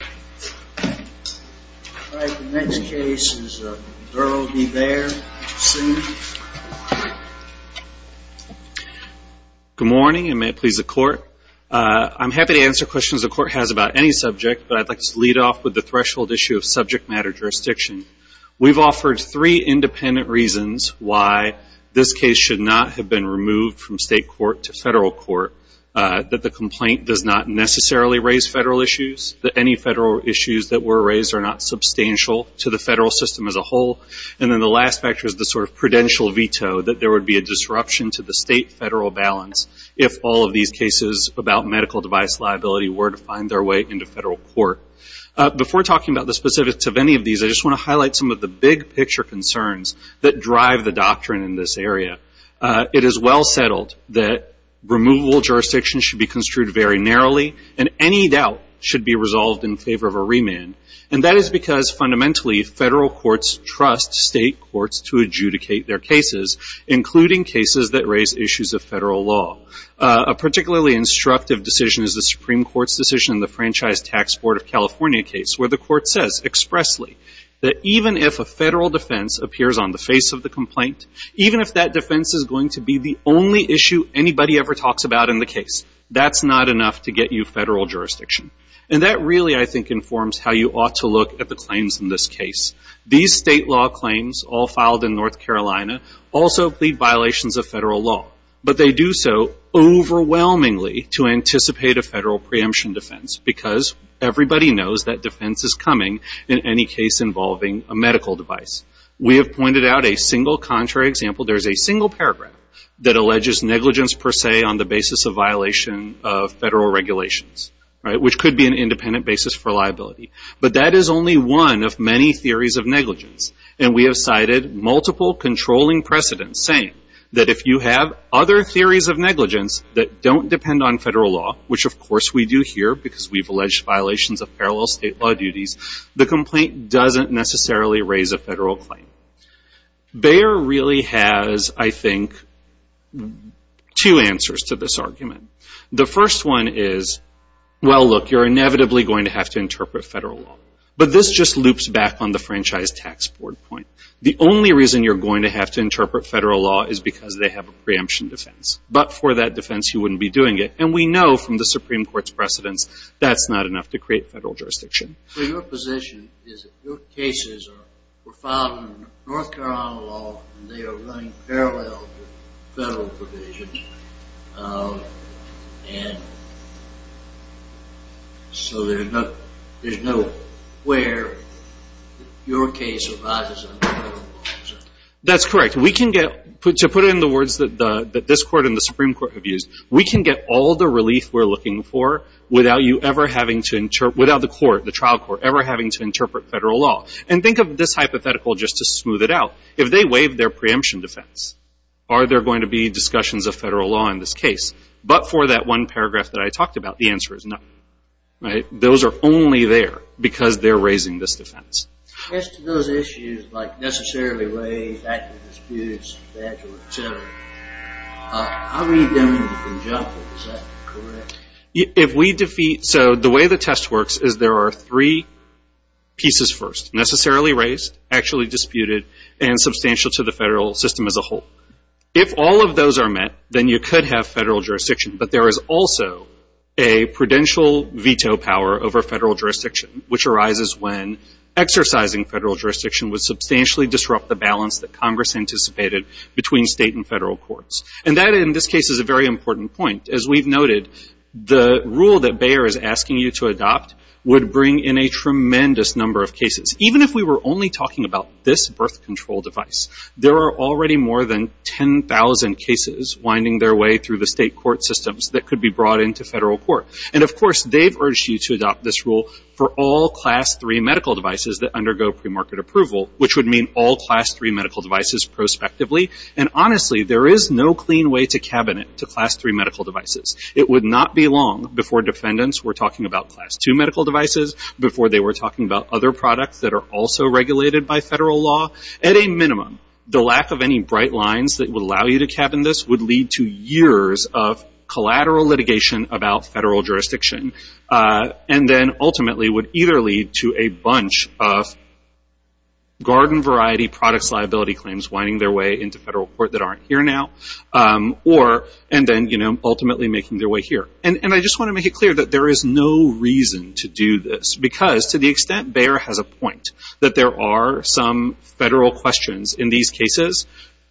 Good morning and may it please the court. I'm happy to answer questions the court has about any subject, but I'd like to lead off with the threshold issue of subject matter jurisdiction. We've offered three independent reasons why this case should not have been removed from state court to federal court. That the complaint does not necessarily raise federal issues, that any federal issues that were raised are not substantial to the federal system as a whole. And then the last factor is the sort of prudential veto that there would be a disruption to the state federal balance if all of these cases about medical device liability were to find their way into federal court. Before talking about the specifics of any of these, I just want to highlight some of the big picture concerns that drive the doctrine in this area. It is well settled that removal jurisdictions should be construed very narrowly and any doubt should be resolved in favor of a remand. And that is because fundamentally federal courts trust state courts to adjudicate their cases, including cases that raise issues of federal law. A particularly instructive decision is the Supreme Court's decision in the Franchise Tax Board of California case where the court says expressly that even if a federal defense appears on the face of the complaint, even if that defense is going to be the only issue anybody ever talks about in the case, that's not enough to get you federal jurisdiction. And that really I think informs how you ought to look at the claims in this case. These state law claims all filed in North Carolina also plead violations of federal law. But they do so overwhelmingly to anticipate a federal preemption defense because everybody knows that defense is coming in any case involving a medical device. We have cited multiple controlling precedents saying that if you have other theories of negligence that don't depend on federal law, which of course we do here because we have alleged violations of parallel state law duties, the complaint doesn't necessarily raise a federal jurisdiction. So there are two answers to this argument. The first one is, well, look, you're inevitably going to have to interpret federal law. But this just loops back on the Franchise Tax Board point. The only reason you're going to have to interpret federal law is because they have a preemption defense. But for that defense, you wouldn't be doing it. And we know from the Supreme Court's precedents, that's not enough to create federal jurisdiction. So your position is that your cases were filed in North Carolina law and they are running parallel to federal provisions. And so there's no where your case arises under federal law. That's correct. We can get, to put it in the words that this court and the Supreme Court have used, we can get all the relief we're looking for without you ever having to, without the court, the trial court ever having to interpret federal law. And think of this hypothetical just to smooth it out. If they waive their preemption defense, are there going to be discussions of federal law in this case? But for that one paragraph that I talked about, the answer is no. Those are only there because they're raising this defense. As to those issues, like necessarily raised, actually disputed, etc. I read them in the conjecture. Is that correct? If we defeat, so the way the test works is there are three pieces first. Necessarily raised, actually disputed, and substantial to the federal system as a whole. If all of those are met, then you could have federal jurisdiction. But there is also a prudential veto power over federal jurisdiction, which arises when exercising federal jurisdiction would substantially disrupt the balance that Congress anticipated between state and federal courts. And that in this case is a very important point. As we've noted, the rule that Bayer is asking you to adopt would bring in a tremendous number of cases. Even if we were only talking about this birth control device, there are already more than 10,000 cases winding their way through the state court systems that could be brought into federal court. And of course, they've urged you to adopt this rule for all class three medical devices that undergo premarket approval, which would mean all class three medical devices prospectively. And honestly, there is no clean way to cabinet to class three medical devices. It would not be long before defendants were talking about class two medical devices, before they were talking about other products that are also regulated by federal law. At a minimum, the lack of any bright lines that would allow you to cabin this would lead to years of collateral litigation about federal jurisdiction. And then ultimately would either lead to a bunch of garden variety products liability claims winding their way into federal court that aren't here now. Or, and then, you know, ultimately making their way here. And I just want to make it clear that there is no reason to do this. Because to the extent Bayer has a point that there are some federal questions in these cases,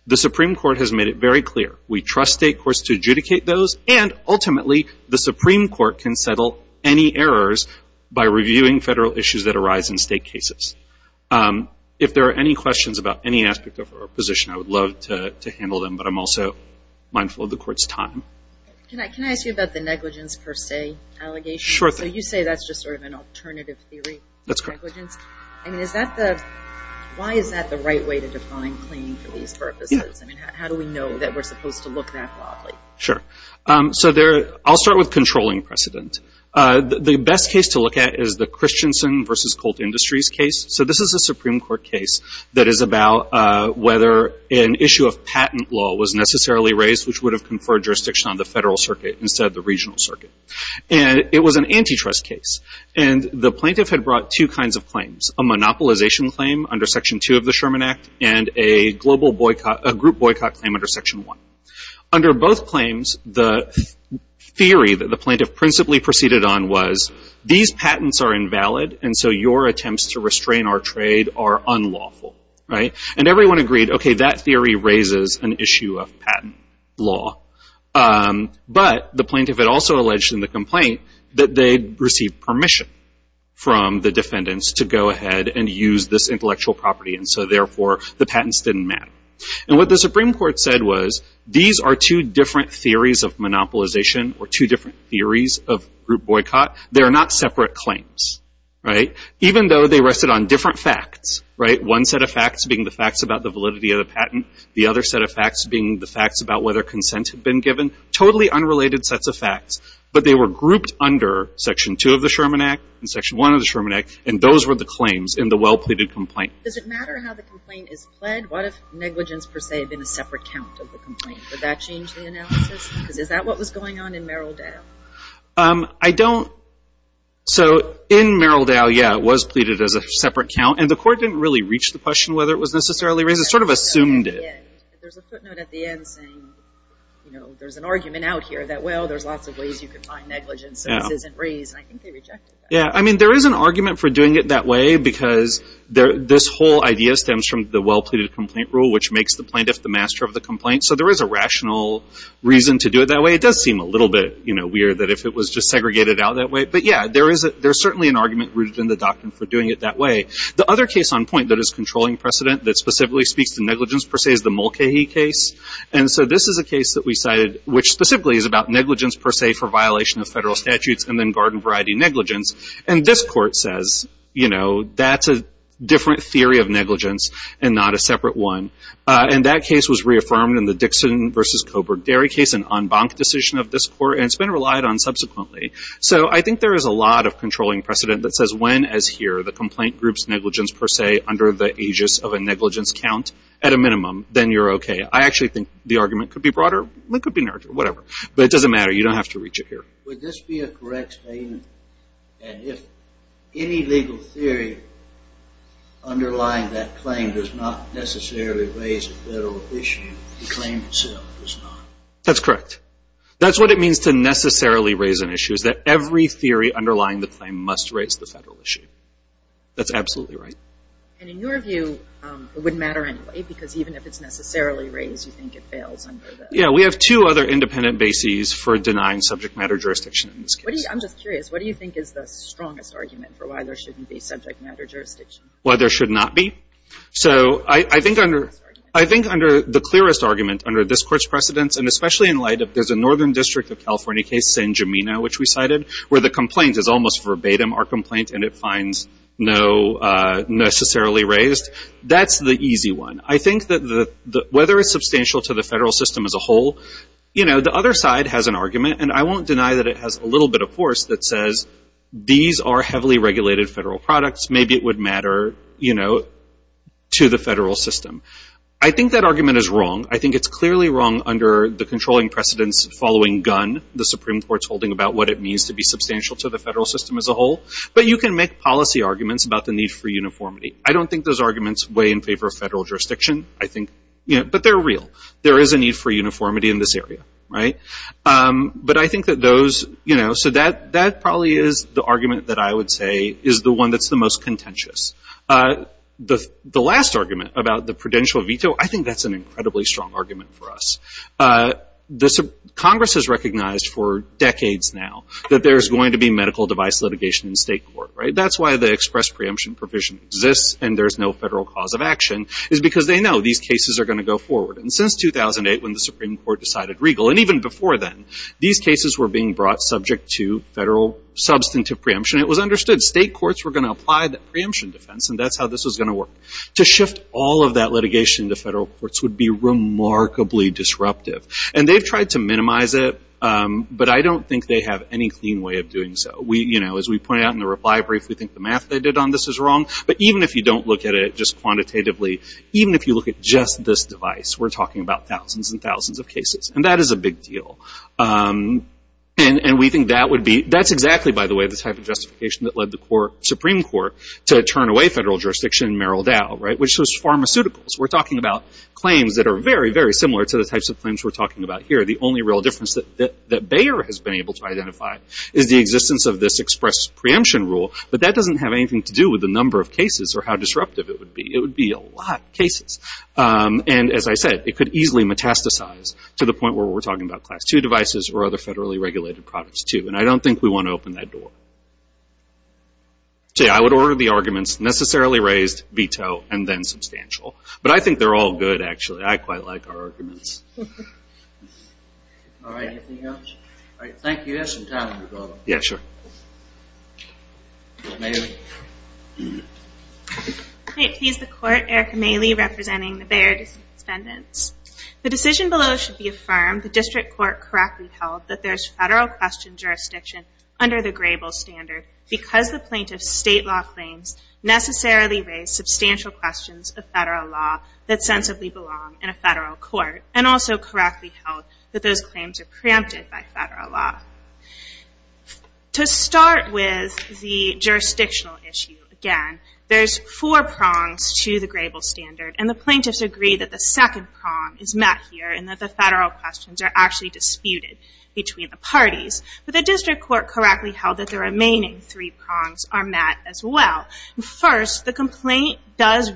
the Supreme Court has made it very clear. We trust state courts to adjudicate those. And ultimately, the Supreme Court can settle any errors by reviewing federal issues that arise in state cases. If there are any questions about any aspect of our position, I would love to handle them. But I'm also mindful of the court's time. Can I ask you about the negligence per se allegations? Sure thing. So you say that's just sort of an alternative theory. That's correct. I mean, is that the, why is that the right way to define claim for these purposes? Yeah. I mean, how do we know that we're supposed to look that broadly? Sure. So there, I'll start with controlling precedent. The best case to look at is the Christensen v. Colt Industries case. So this is a Supreme Court case that is about whether an issue of patent law was necessarily raised which would have conferred jurisdiction on the federal circuit instead of the regional circuit. And it was an antitrust case. And the plaintiff had brought two kinds of claims. A monopolization claim under Section 2 of the Sherman Act and a global boycott, a group boycott claim under Section 1. Under both claims, the theory that the plaintiff principally proceeded on was, these patents are invalid and so your attempts to restrain our trade are unlawful. Right? And everyone agreed, okay, that theory raises an issue of patent law. But the plaintiff had also alleged in the complaint that they received permission from the defendants to go ahead and use this intellectual property and so therefore the patents didn't matter. And what the Supreme Court said was, these are two different theories of monopolization or two different theories of group boycott. They are not separate claims. Right? Even though they rested on different facts. Right? One set of facts being the facts about the validity of the patent. The other set of facts being the facts about whether consent had been given. Totally unrelated sets of facts. But they were grouped under Section 2 of the Sherman Act and Section 1 of the Sherman Act. And those were the claims in the well-pleaded complaint. Does it matter how the complaint is pled? What if negligence per se had been a separate count of the complaint? Would that change the analysis? Because is that what was going on in Merrildale? I don't. So in Merrildale, yeah, it was pleaded as a separate count. And the Court didn't really reach the question whether it was necessarily raised. It sort of assumed it. There's a footnote at the end saying, you know, there's an argument out here that, well, there's lots of ways you can find negligence. So this isn't raised. And I think they rejected that. Yeah. I mean, there is an argument for doing it that way because this whole idea stems from the well-pleaded complaint rule, which makes the plaintiff the master of the complaint. So there is a rational reason to do it that way. It does seem a little bit, you know, weird that if it was just segregated out that way. But, yeah, there is certainly an argument rooted in the doctrine for doing it that way. The other case on point that is controlling precedent that specifically speaks to negligence per se is the Mulcahy case. And so this is a case that we cited, which specifically is about negligence per se for violation of federal statutes and then garden variety negligence. And this Court says, you know, that's a different theory of negligence and not a separate one. And that case was reaffirmed in the Dixon versus Coburg-Derry case, an en banc decision of this Court, and it's been relied on subsequently. So I think there is a lot of controlling precedent that says when, as here, the complaint groups negligence per se under the aegis of a negligence count at a minimum, then you're okay. I actually think the argument could be broader. It could be narrower. Whatever. But it doesn't matter. You don't have to reach it here. Would this be a correct statement? And if any legal theory underlying that claim does not necessarily raise a federal issue, the claim itself does not? That's correct. That's what it means to necessarily raise an issue, is that every theory underlying the claim must raise the federal issue. That's absolutely right. And in your view, it wouldn't matter anyway, because even if it's necessarily raised, you think it fails under the... Yeah, we have two other independent bases for denying subject matter jurisdiction in this case. I'm just curious. What do you think is the strongest argument for why there shouldn't be subject matter jurisdiction? Why there should not be? So I think under the clearest argument under this Court's precedence, and especially in light of there's a Northern District of California case, San Gimeno, which we cited, where the complaint is almost verbatim, our complaint, and it finds no necessarily raised, that's the easy one. I think that whether it's substantial to the federal system as a whole, you know, the other side has an argument, and I won't deny that it has a little bit of force that says, these are heavily regulated federal products. Maybe it would matter, you know, to the federal system. I think that argument is wrong. I think it's clearly wrong under the controlling precedence following Gunn, the Supreme Court's holding about what it means to be substantial to the federal system as a whole. But you can make policy arguments about the need for uniformity. I don't think those arguments weigh in favor of federal jurisdiction. I think, you know, but they're real. There is a need for uniformity in this area, right? But I think that those, you know, so that probably is the argument that I would say is the one that's the most contentious. The last argument about the prudential veto, I think that's an incredibly strong argument for us. Congress has recognized for decades now that there's going to be medical device litigation in state court, right? That's why the express preemption provision exists, and there's no federal cause of action, is because they know these cases are going to go forward. And since 2008, when the Supreme Court decided regal, and even before then, these cases were being brought subject to federal substantive preemption. It was understood state courts were going to apply that preemption defense, and that's how this was going to work. To shift all of that litigation to federal courts would be remarkably disruptive. And they've tried to minimize it, but I don't think they have any clean way of doing so. We, you know, as we pointed out in the reply brief, we think the math they did on this is wrong, but even if you don't look at it just quantitatively, even if you look at just this device, we're talking about thousands and thousands of cases, and that is a big deal. And we think that would be, that's exactly, by the way, the type of justification that led the court, Supreme Court, to turn away federal jurisdiction in Merrill Dow, right, which was pharmaceuticals. We're talking about claims that are very, very similar to the types of claims we're talking about here. The only real difference that Bayer has been able to identify is the existence of this express preemption rule, but that doesn't have anything to do with the number of cases or how disruptive it would be. It would be a lot of cases. And as I said, it could easily metastasize to the point where we're talking about Class II devices or other federally regulated products, too, and I don't think we want to open that door. So, yeah, I would order the arguments necessarily raised, veto, and then substantial. But I think they're all good, actually. I quite like our arguments. All right, anything else? All right, thank you. You have some time to go. Yeah, sure. Maylee. Hi, it's the court, Erica Maylee, representing the Bayer District Defendants. The decision below should be affirmed, the district court correctly held, that there's federal question jurisdiction under the Grable standard because the plaintiff's state law claims necessarily raise substantial questions of federal law that sensibly belong in a federal court, and also correctly held that those claims are preempted by federal law. To start with the jurisdictional issue, again, there's four prongs to the Grable standard, and the plaintiffs agree that the second prong is met here and that the federal questions are actually disputed between the parties. But the district court correctly held that the remaining three prongs are met as well. First, the complaint does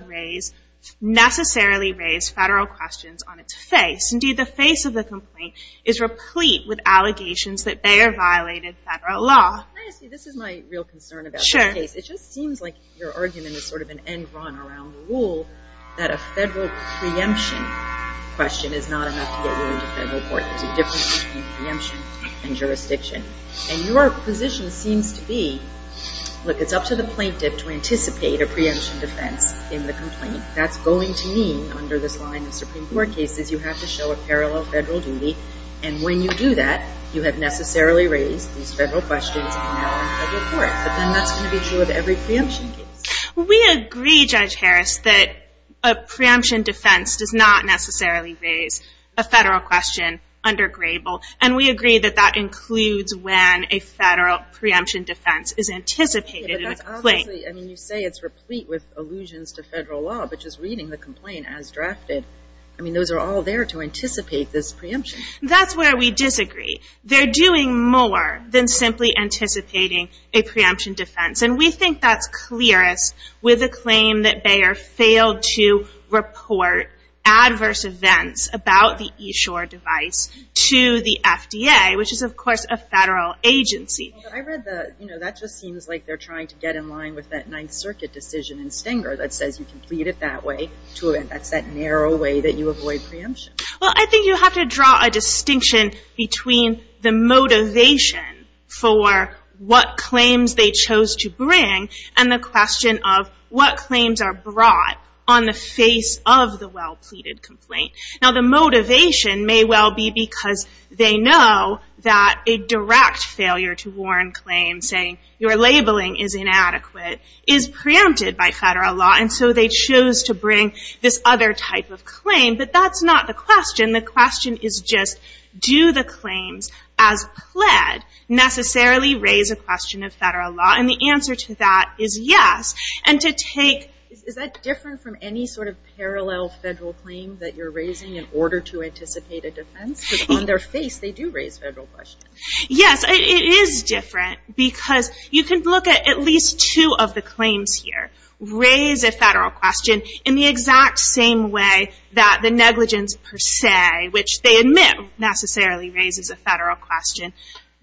necessarily raise federal questions on its face. Indeed, the face of the complaint is replete with allegations that Bayer violated federal law. May I ask you, this is my real concern about the case. It just seems like your argument is sort of an end run around the rule that a federal preemption question is not enough to get you into federal court. There's a difference between preemption and jurisdiction. And your position seems to be, look, it's up to the plaintiff to anticipate a preemption defense in the complaint. That's going to mean, under this line of Supreme Court cases, you have to show a parallel federal duty. And when you do that, you have necessarily raised these federal questions in federal court. But then that's going to be true of every preemption case. We agree, Judge Harris, that a preemption defense does not necessarily raise a federal question under Grable. And we agree that that includes when a federal preemption defense is anticipated in a complaint. But that's obviously, I mean, you say it's replete with allusions to federal law, but just reading the complaint as drafted, I mean, those are all there to anticipate this preemption. That's where we disagree. They're doing more than simply anticipating a preemption defense. And we think that's clearest with a claim that Bayer failed to report adverse events about the eShore device to the FDA, which is, of course, a federal agency. I read the, you know, that just seems like they're trying to get in line with that Ninth Circuit decision in Stenger that says you can plead it that way. That's that narrow way that you avoid preemption. Well, I think you have to draw a distinction between the motivation for what claims they chose to bring and the question of what claims are brought on the face of the well-pleaded complaint. Now, the motivation may well be because they know that a direct failure to warn claims saying your labeling is inadequate is preempted by federal law. But that's not the question. The question is just do the claims as pled necessarily raise a question of federal law? And the answer to that is yes. And to take... Is that different from any sort of parallel federal claim that you're raising in order to anticipate a defense? Because on their face, they do raise federal questions. Yes, it is different because you can look at at least two of the claims here. Raise a federal question in the exact same way that the negligence per se, which they admit necessarily raises a federal question,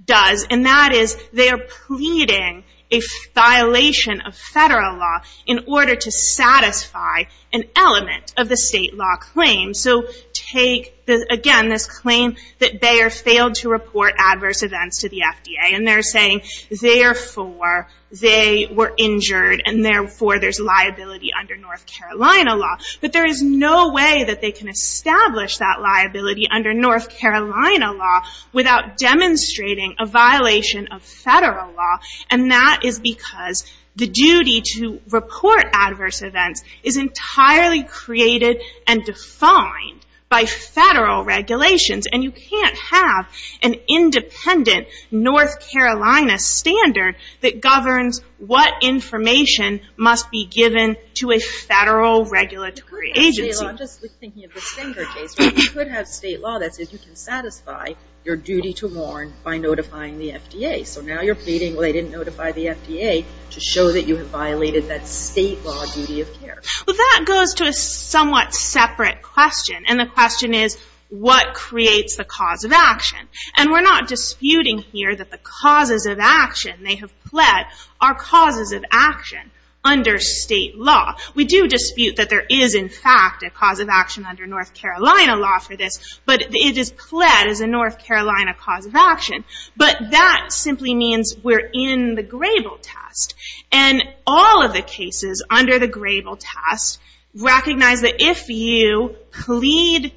does. And that is they are pleading a violation of federal law in order to satisfy an element of the state law claim. So take, again, this claim that Bayer failed to report adverse events to the FDA. And they're saying therefore they were injured and therefore there's liability under North Carolina law. But there is no way that they can establish that liability under North Carolina law without demonstrating a violation of federal law. And that is because the duty to report adverse events is entirely created and defined by federal regulations. And you can't have an independent North Carolina standard that governs what information must be given to a federal regulatory agency. I'm just thinking of the Stenger case where you could have state law that says you can satisfy your duty to warn by notifying the FDA. So now you're pleading they didn't notify the FDA to show that you have violated that state law duty of care. Well, that goes to a somewhat separate question. And the question is, what creates the cause of action? And we're not disputing here that the causes of action they have pled are causes of action under state law. We do dispute that there is, in fact, a cause of action under North Carolina law for this. But it is pled as a North Carolina cause of action. But that simply means we're in the Grable test. And all of the cases under the Grable test recognize that if you plead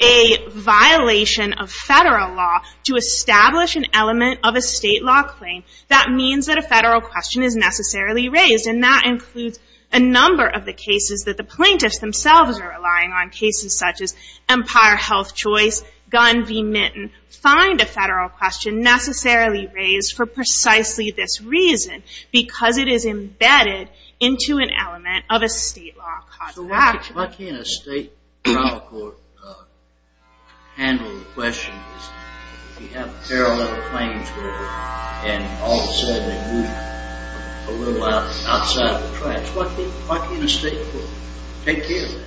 a violation of federal law to establish an element of a state law claim, that means that a federal question is necessarily raised. And that includes a number of the cases that the plaintiffs themselves are relying on. Cases such as Empire Health Choice, Gun v. Nitton, find a federal question necessarily raised for precisely this reason. Because it is embedded into an element of a state law cause of action. Why can't a state trial court handle the question? You have a pair of other claims there, and all of a sudden they move a little outside of the tracks. Why can't a state court take care of that?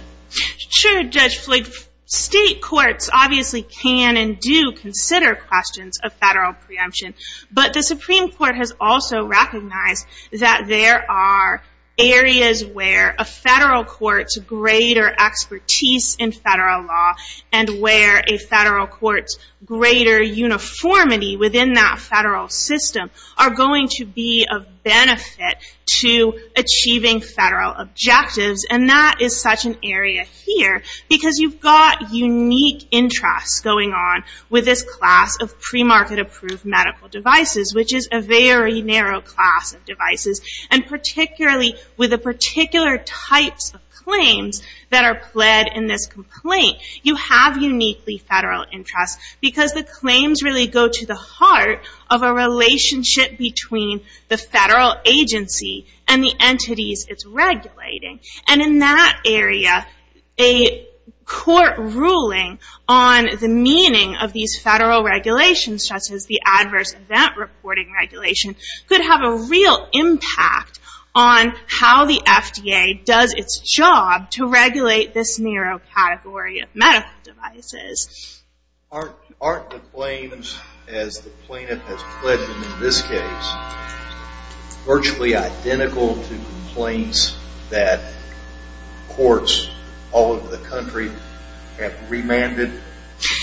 Sure, Judge Flake. State courts obviously can and do consider questions of federal preemption. But the Supreme Court has also recognized that there are areas where a federal court's greater expertise in federal law and where a federal court's greater uniformity within that federal system are going to be of benefit to achieving federal objectives. And that is such an area here. Because you've got unique interests going on with this class of pre-market approved medical devices, which is a very narrow class of devices. And particularly with the particular types of claims that are pled in this complaint, you have uniquely federal interests. Because the claims really go to the heart of a relationship between the federal agency and the entities it's regulating. And in that area, a court ruling on the meaning of these federal regulations, such as the adverse event reporting regulation, could have a real impact on how the FDA does its job to regulate this narrow category of medical devices. Aren't the claims, as the plaintiff has pledged in this case, virtually identical to complaints that courts all over the country have remanded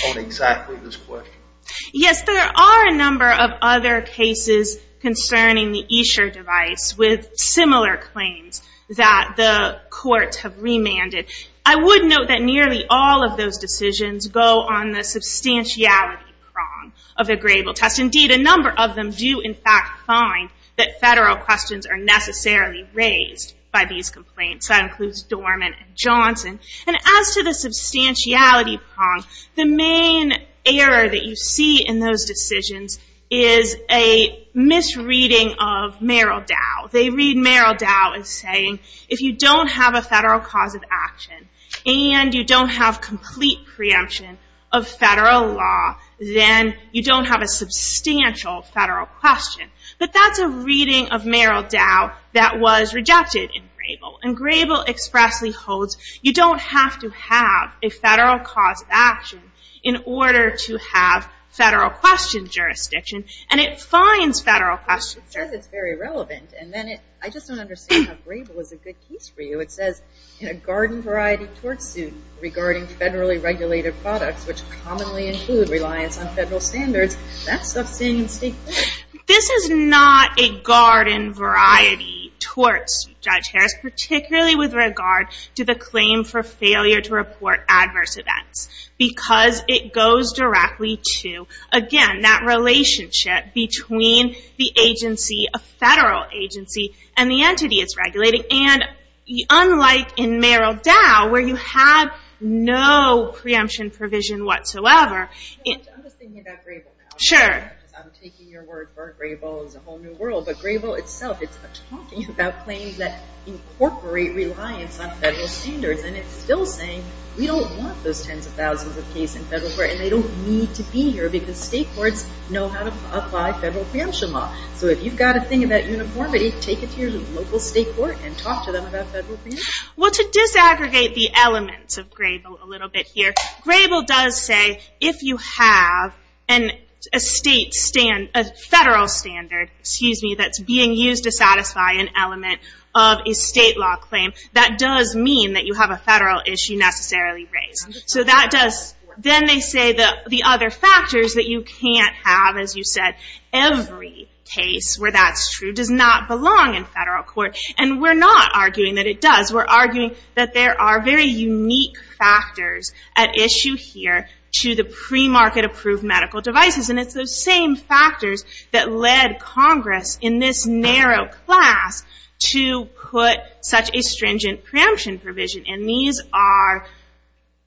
on exactly this question? Yes, there are a number of other cases concerning the Escher device with similar claims that the courts have remanded. I would note that nearly all of those decisions go on the substantiality prong of the Grable test. Indeed, a number of them do in fact find that federal questions are necessarily raised by these complaints. That includes Dorman and Johnson. And as to the substantiality prong, the main error that you see in those decisions is a misreading of Merrill Dow. They read Merrill Dow as saying, if you don't have a federal cause of action and you don't have complete preemption of federal law, then you don't have a substantial federal question. But that's a reading of Merrill Dow that was rejected in Grable. And Grable expressly holds you don't have to have a federal cause of action in order to have federal question jurisdiction, and it finds federal questions. It says it's very relevant, and then I just don't understand how Grable is a good case for you. It says, in a garden-variety tort suit regarding federally regulated products, which commonly include reliance on federal standards, that's substantive. This is not a garden-variety tort suit, Judge Harris, particularly with regard to the claim for failure to report adverse events because it goes directly to, again, that relationship between the agency, a federal agency, and the entity it's regulating. Unlike in Merrill Dow, where you have no preemption provision whatsoever. I'm just thinking about Grable now. I'm taking your word for it. Grable is a whole new world, but Grable itself, it's talking about claims that incorporate reliance on federal standards, and it's still saying we don't want those tens of thousands of cases in federal court, and they don't need to be here because state courts know how to apply federal preemption law. So if you've got a thing about uniformity, can you take it to your local state court and talk to them about federal preemption? Well, to disaggregate the elements of Grable a little bit here, Grable does say if you have a federal standard that's being used to satisfy an element of a state law claim, that does mean that you have a federal issue necessarily raised. Then they say the other factors that you can't have, as you said, every case where that's true does not belong in federal court, and we're not arguing that it does. We're arguing that there are very unique factors at issue here to the premarket-approved medical devices, and it's those same factors that led Congress in this narrow class to put such a stringent preemption provision, and these are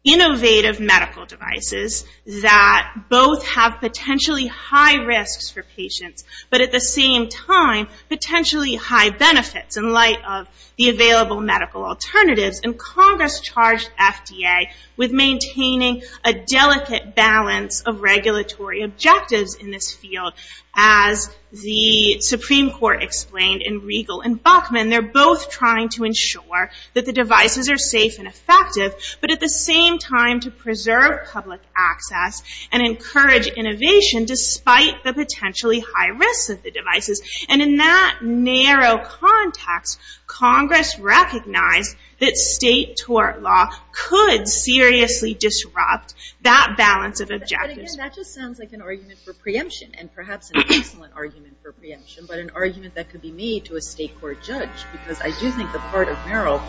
innovative medical devices that both have potentially high risks for patients, but at the same time potentially high benefits in light of the available medical alternatives, and Congress charged FDA with maintaining a delicate balance of regulatory objectives in this field. As the Supreme Court explained in Riegel and Bachman, but at the same time to preserve public access and encourage innovation despite the potentially high risks of the devices, and in that narrow context, Congress recognized that state tort law could seriously disrupt that balance of objectives. That just sounds like an argument for preemption, and perhaps an excellent argument for preemption, but an argument that could be made to a state court judge, because I do think the court of Merrill,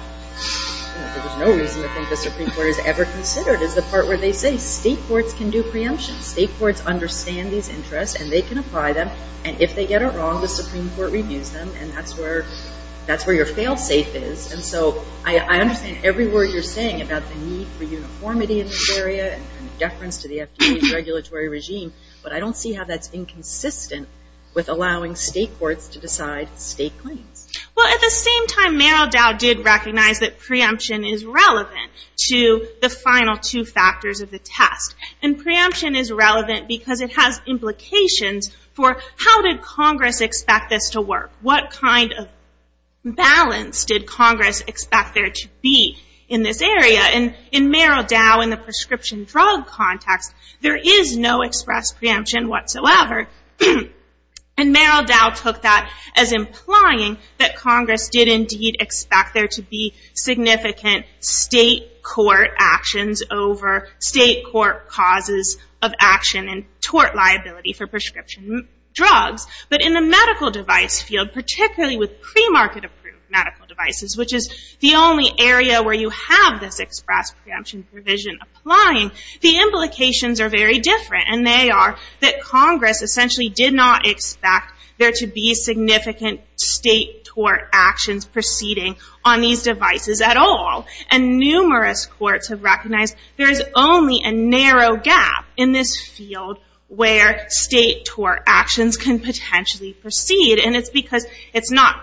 there's no reason to think the Supreme Court has ever considered, is the part where they say state courts can do preemption. State courts understand these interests, and they can apply them, and if they get it wrong, the Supreme Court reviews them, and that's where your fail-safe is, and so I understand every word you're saying about the need for uniformity in this area and deference to the FDA's regulatory regime, but I don't see how that's inconsistent with allowing state courts to decide state claims. Well, at the same time, Merrill Dow did recognize that preemption is relevant to the final two factors of the test, and preemption is relevant because it has implications for how did Congress expect this to work? What kind of balance did Congress expect there to be in this area? In Merrill Dow, in the prescription drug context, there is no express preemption whatsoever, and Merrill Dow took that as implying that Congress did indeed expect there to be significant state court actions over state court causes of action and tort liability for prescription drugs, but in the medical device field, particularly with pre-market approved medical devices, which is the only area where you have this express preemption provision applying, the implications are very different, and they are that Congress essentially did not expect there to be significant state tort actions proceeding on these devices at all, and numerous courts have recognized there is only a narrow gap in this field where state tort actions can potentially proceed, and it's because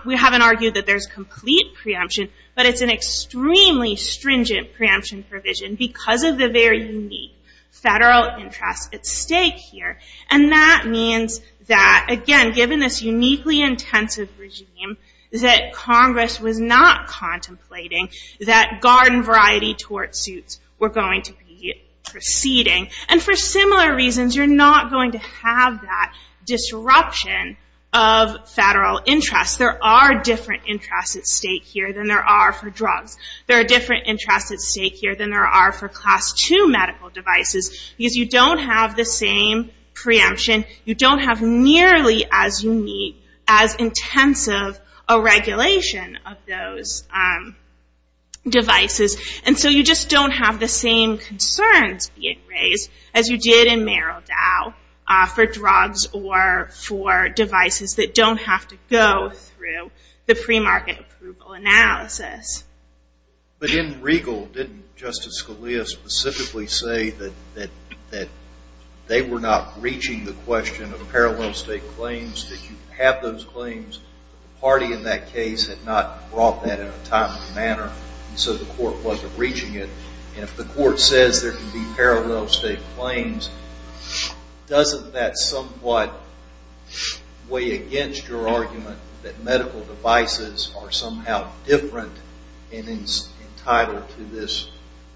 we haven't argued that there's complete preemption, but it's an extremely stringent preemption provision because of the very unique federal interest at stake here, and that means that, again, given this uniquely intensive regime, that Congress was not contemplating that garden variety tort suits were going to be proceeding, and for similar reasons, you're not going to have that disruption of federal interest. There are different interests at stake here than there are for drugs. There are different interests at stake here than there are for Class II medical devices, because you don't have the same preemption. You don't have nearly as unique, as intensive a regulation of those devices, and so you just don't have the same concerns being raised as you did in Merrill Dow for drugs or for devices that don't have to go through the premarket approval analysis. But in Regal, didn't Justice Scalia specifically say that they were not reaching the question of parallel state claims, that you have those claims? The party in that case had not brought that in a timely manner, and so the court wasn't reaching it, and if the court says there can be parallel state claims, doesn't that somewhat weigh against your argument that medical devices are somehow different and entitled to this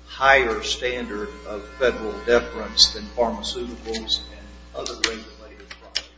higher standard of federal deference than pharmaceuticals and other regulated drugs?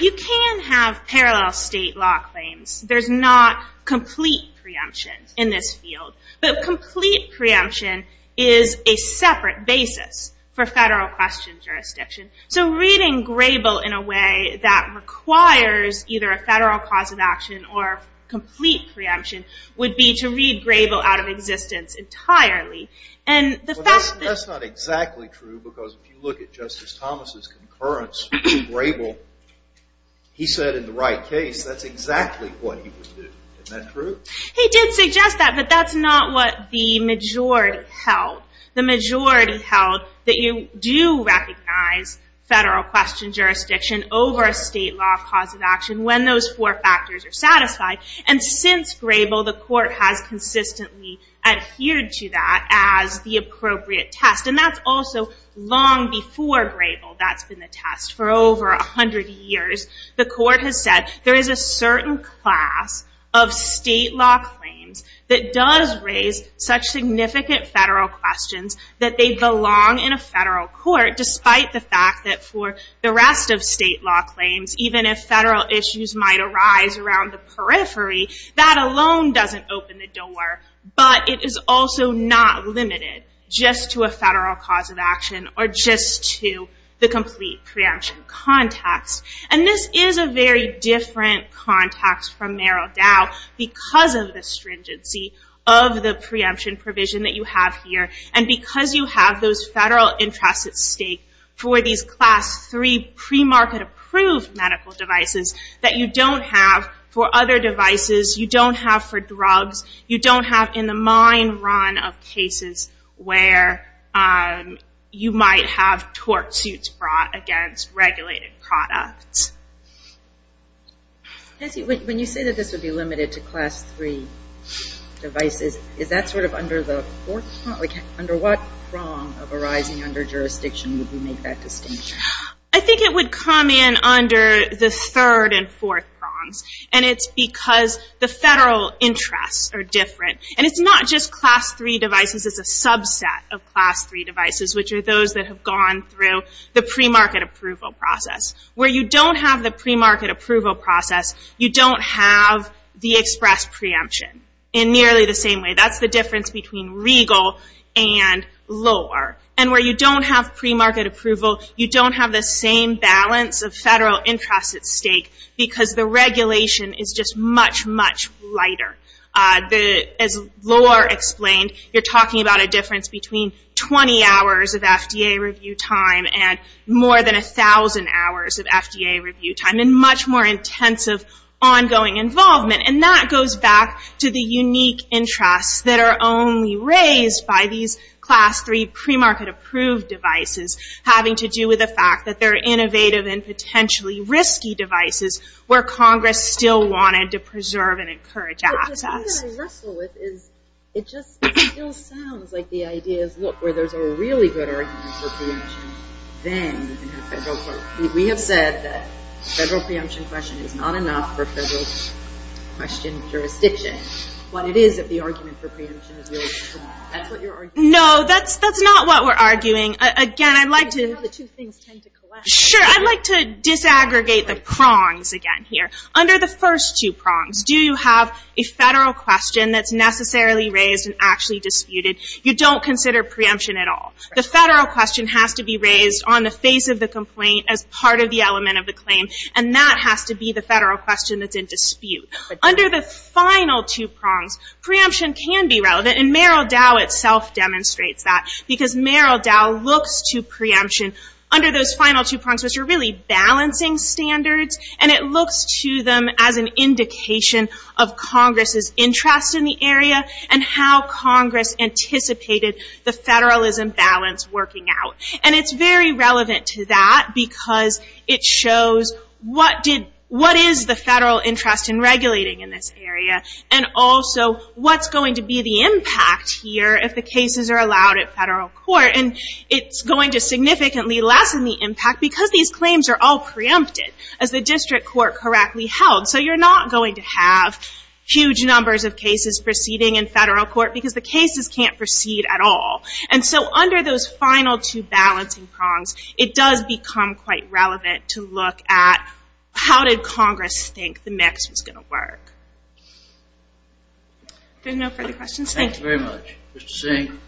You can have parallel state law claims. There's not complete preemption in this field, but complete preemption is a separate basis for federal question jurisdiction. So reading Grable in a way that requires either a federal cause of action or complete preemption would be to read Grable out of existence entirely. That's not exactly true, because if you look at Justice Thomas' concurrence to Grable, he said in the right case that's exactly what he would do. Isn't that true? He did suggest that, but that's not what the majority held. The majority held that you do recognize federal question jurisdiction over a state law cause of action when those four factors are satisfied, and since Grable, the court has consistently adhered to that as the appropriate test, and that's also long before Grable that's been the test. For over 100 years, the court has said there is a certain class of state law claims that does raise such significant federal questions that they belong in a federal court, despite the fact that for the rest of state law claims, even if federal issues might arise around the periphery, that alone doesn't open the door, but it is also not limited just to a federal cause of action or just to the complete preemption context. This is a very different context from Merrill Dow because of the stringency of the preemption provision that you have here and because you have those federal interests at stake for these class three pre-market approved medical devices that you don't have for other devices, you don't have for drugs, you don't have in the mind run of cases where you might have tort suits brought against regulated products. When you say that this would be limited to class three devices, is that sort of under the fourth prong? Under what prong of arising under jurisdiction would you make that distinction? I think it would come in under the third and fourth prongs, and it's because the federal interests are different, and it's not just class three devices. It's a subset of class three devices, which are those that have gone through the pre-market approval process. Where you don't have the pre-market approval process, you don't have the express preemption in nearly the same way. That's the difference between regal and lower. Where you don't have pre-market approval, you don't have the same balance of federal interests at stake because the regulation is just much, much lighter. As Laura explained, you're talking about a difference between 20 hours of FDA review time and more than 1,000 hours of FDA review time, and much more intensive ongoing involvement. That goes back to the unique interests that are only raised by these class three pre-market approved devices, having to do with the fact that they're innovative and potentially risky devices, where Congress still wanted to preserve and encourage access. The thing that I wrestle with is, it just still sounds like the idea is, look, where there's a really good argument for preemption, then you can have federal court. We have said that the federal preemption question is not enough for federal question jurisdiction. But it is if the argument for preemption is really strong. That's what you're arguing. No, that's not what we're arguing. Again, I'd like to... The two things tend to collide. Sure, I'd like to disaggregate the prongs again here. Under the first two prongs, do you have a federal question that's necessarily raised and actually disputed? You don't consider preemption at all. The federal question has to be raised on the face of the complaint as part of the element of the claim, and that has to be the federal question that's in dispute. Under the final two prongs, preemption can be relevant, and Merrill Dow itself demonstrates that, because Merrill Dow looks to preemption under those final two prongs, which are really balancing standards, and it looks to them as an indication of Congress's interest in the area and how Congress anticipated the federalism balance working out. And it's very relevant to that because it shows what is the federal interest in regulating in this area and also what's going to be the impact here if the cases are allowed at federal court. And it's going to significantly lessen the impact because these claims are all preempted, as the district court correctly held. So you're not going to have huge numbers of cases proceeding in federal court because the cases can't proceed at all. And so under those final two balancing prongs, it does become quite relevant to look at how did Congress think the mix was going to work. Are there no further questions? Thank you. Thank you very much, Mr. Singh.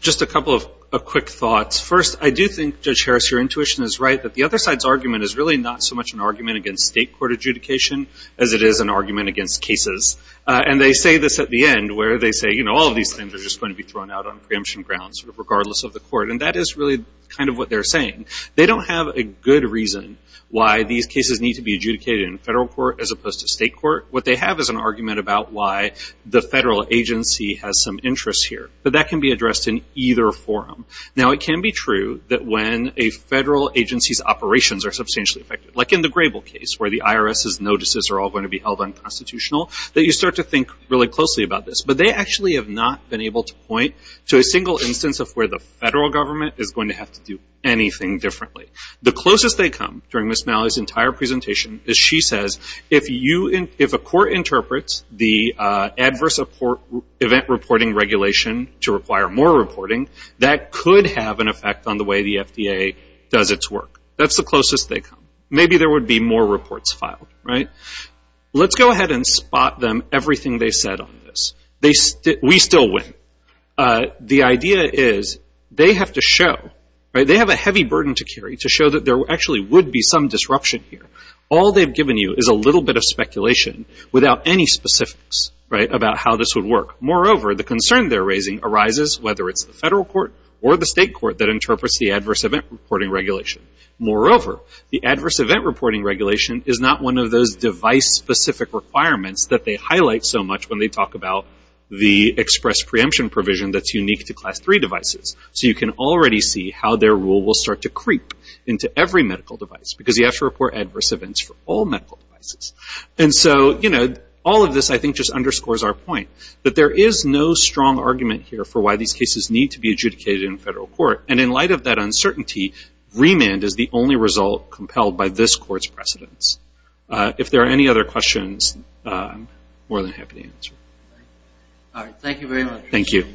Just a couple of quick thoughts. First, I do think, Judge Harris, your intuition is right that the other side's argument is really not so much an argument against state court adjudication as it is an argument against cases. And they say this at the end where they say, you know, all of these things are just going to be thrown out on preemption grounds regardless of the court, and that is really kind of what they're saying. They don't have a good reason why these cases need to be adjudicated in federal court as opposed to state court. What they have is an argument about why the federal agency has some interest here. But that can be addressed in either forum. Now, it can be true that when a federal agency's operations are substantially affected, like in the Grable case, where the IRS's notices are all going to be held unconstitutional, that you start to think really closely about this. But they actually have not been able to point to a single instance of where the federal government is going to have to do anything differently. The closest they come during Ms. Malley's entire presentation is she says, if a court interprets the adverse event reporting regulation to require more reporting, that could have an effect on the way the FDA does its work. That's the closest they come. Maybe there would be more reports filed, right? Let's go ahead and spot them everything they said on this. We still win. The idea is they have to show, they have a heavy burden to carry to show that there actually would be some disruption here. All they've given you is a little bit of speculation without any specifics about how this would work. Moreover, the concern they're raising arises whether it's the federal court or the state court that interprets the adverse event reporting regulation. Moreover, the adverse event reporting regulation is not one of those device-specific requirements that they highlight so much when they talk about the express preemption provision that's unique to Class III devices. You can already see how their rule will start to creep into every medical device because you have to report adverse events for all medical devices. All of this, I think, just underscores our point that there is no strong argument here for why these cases need to be adjudicated in federal court. In light of that uncertainty, remand is the only result compelled by this court's precedents. If there are any other questions, I'm more than happy to answer. Thank you.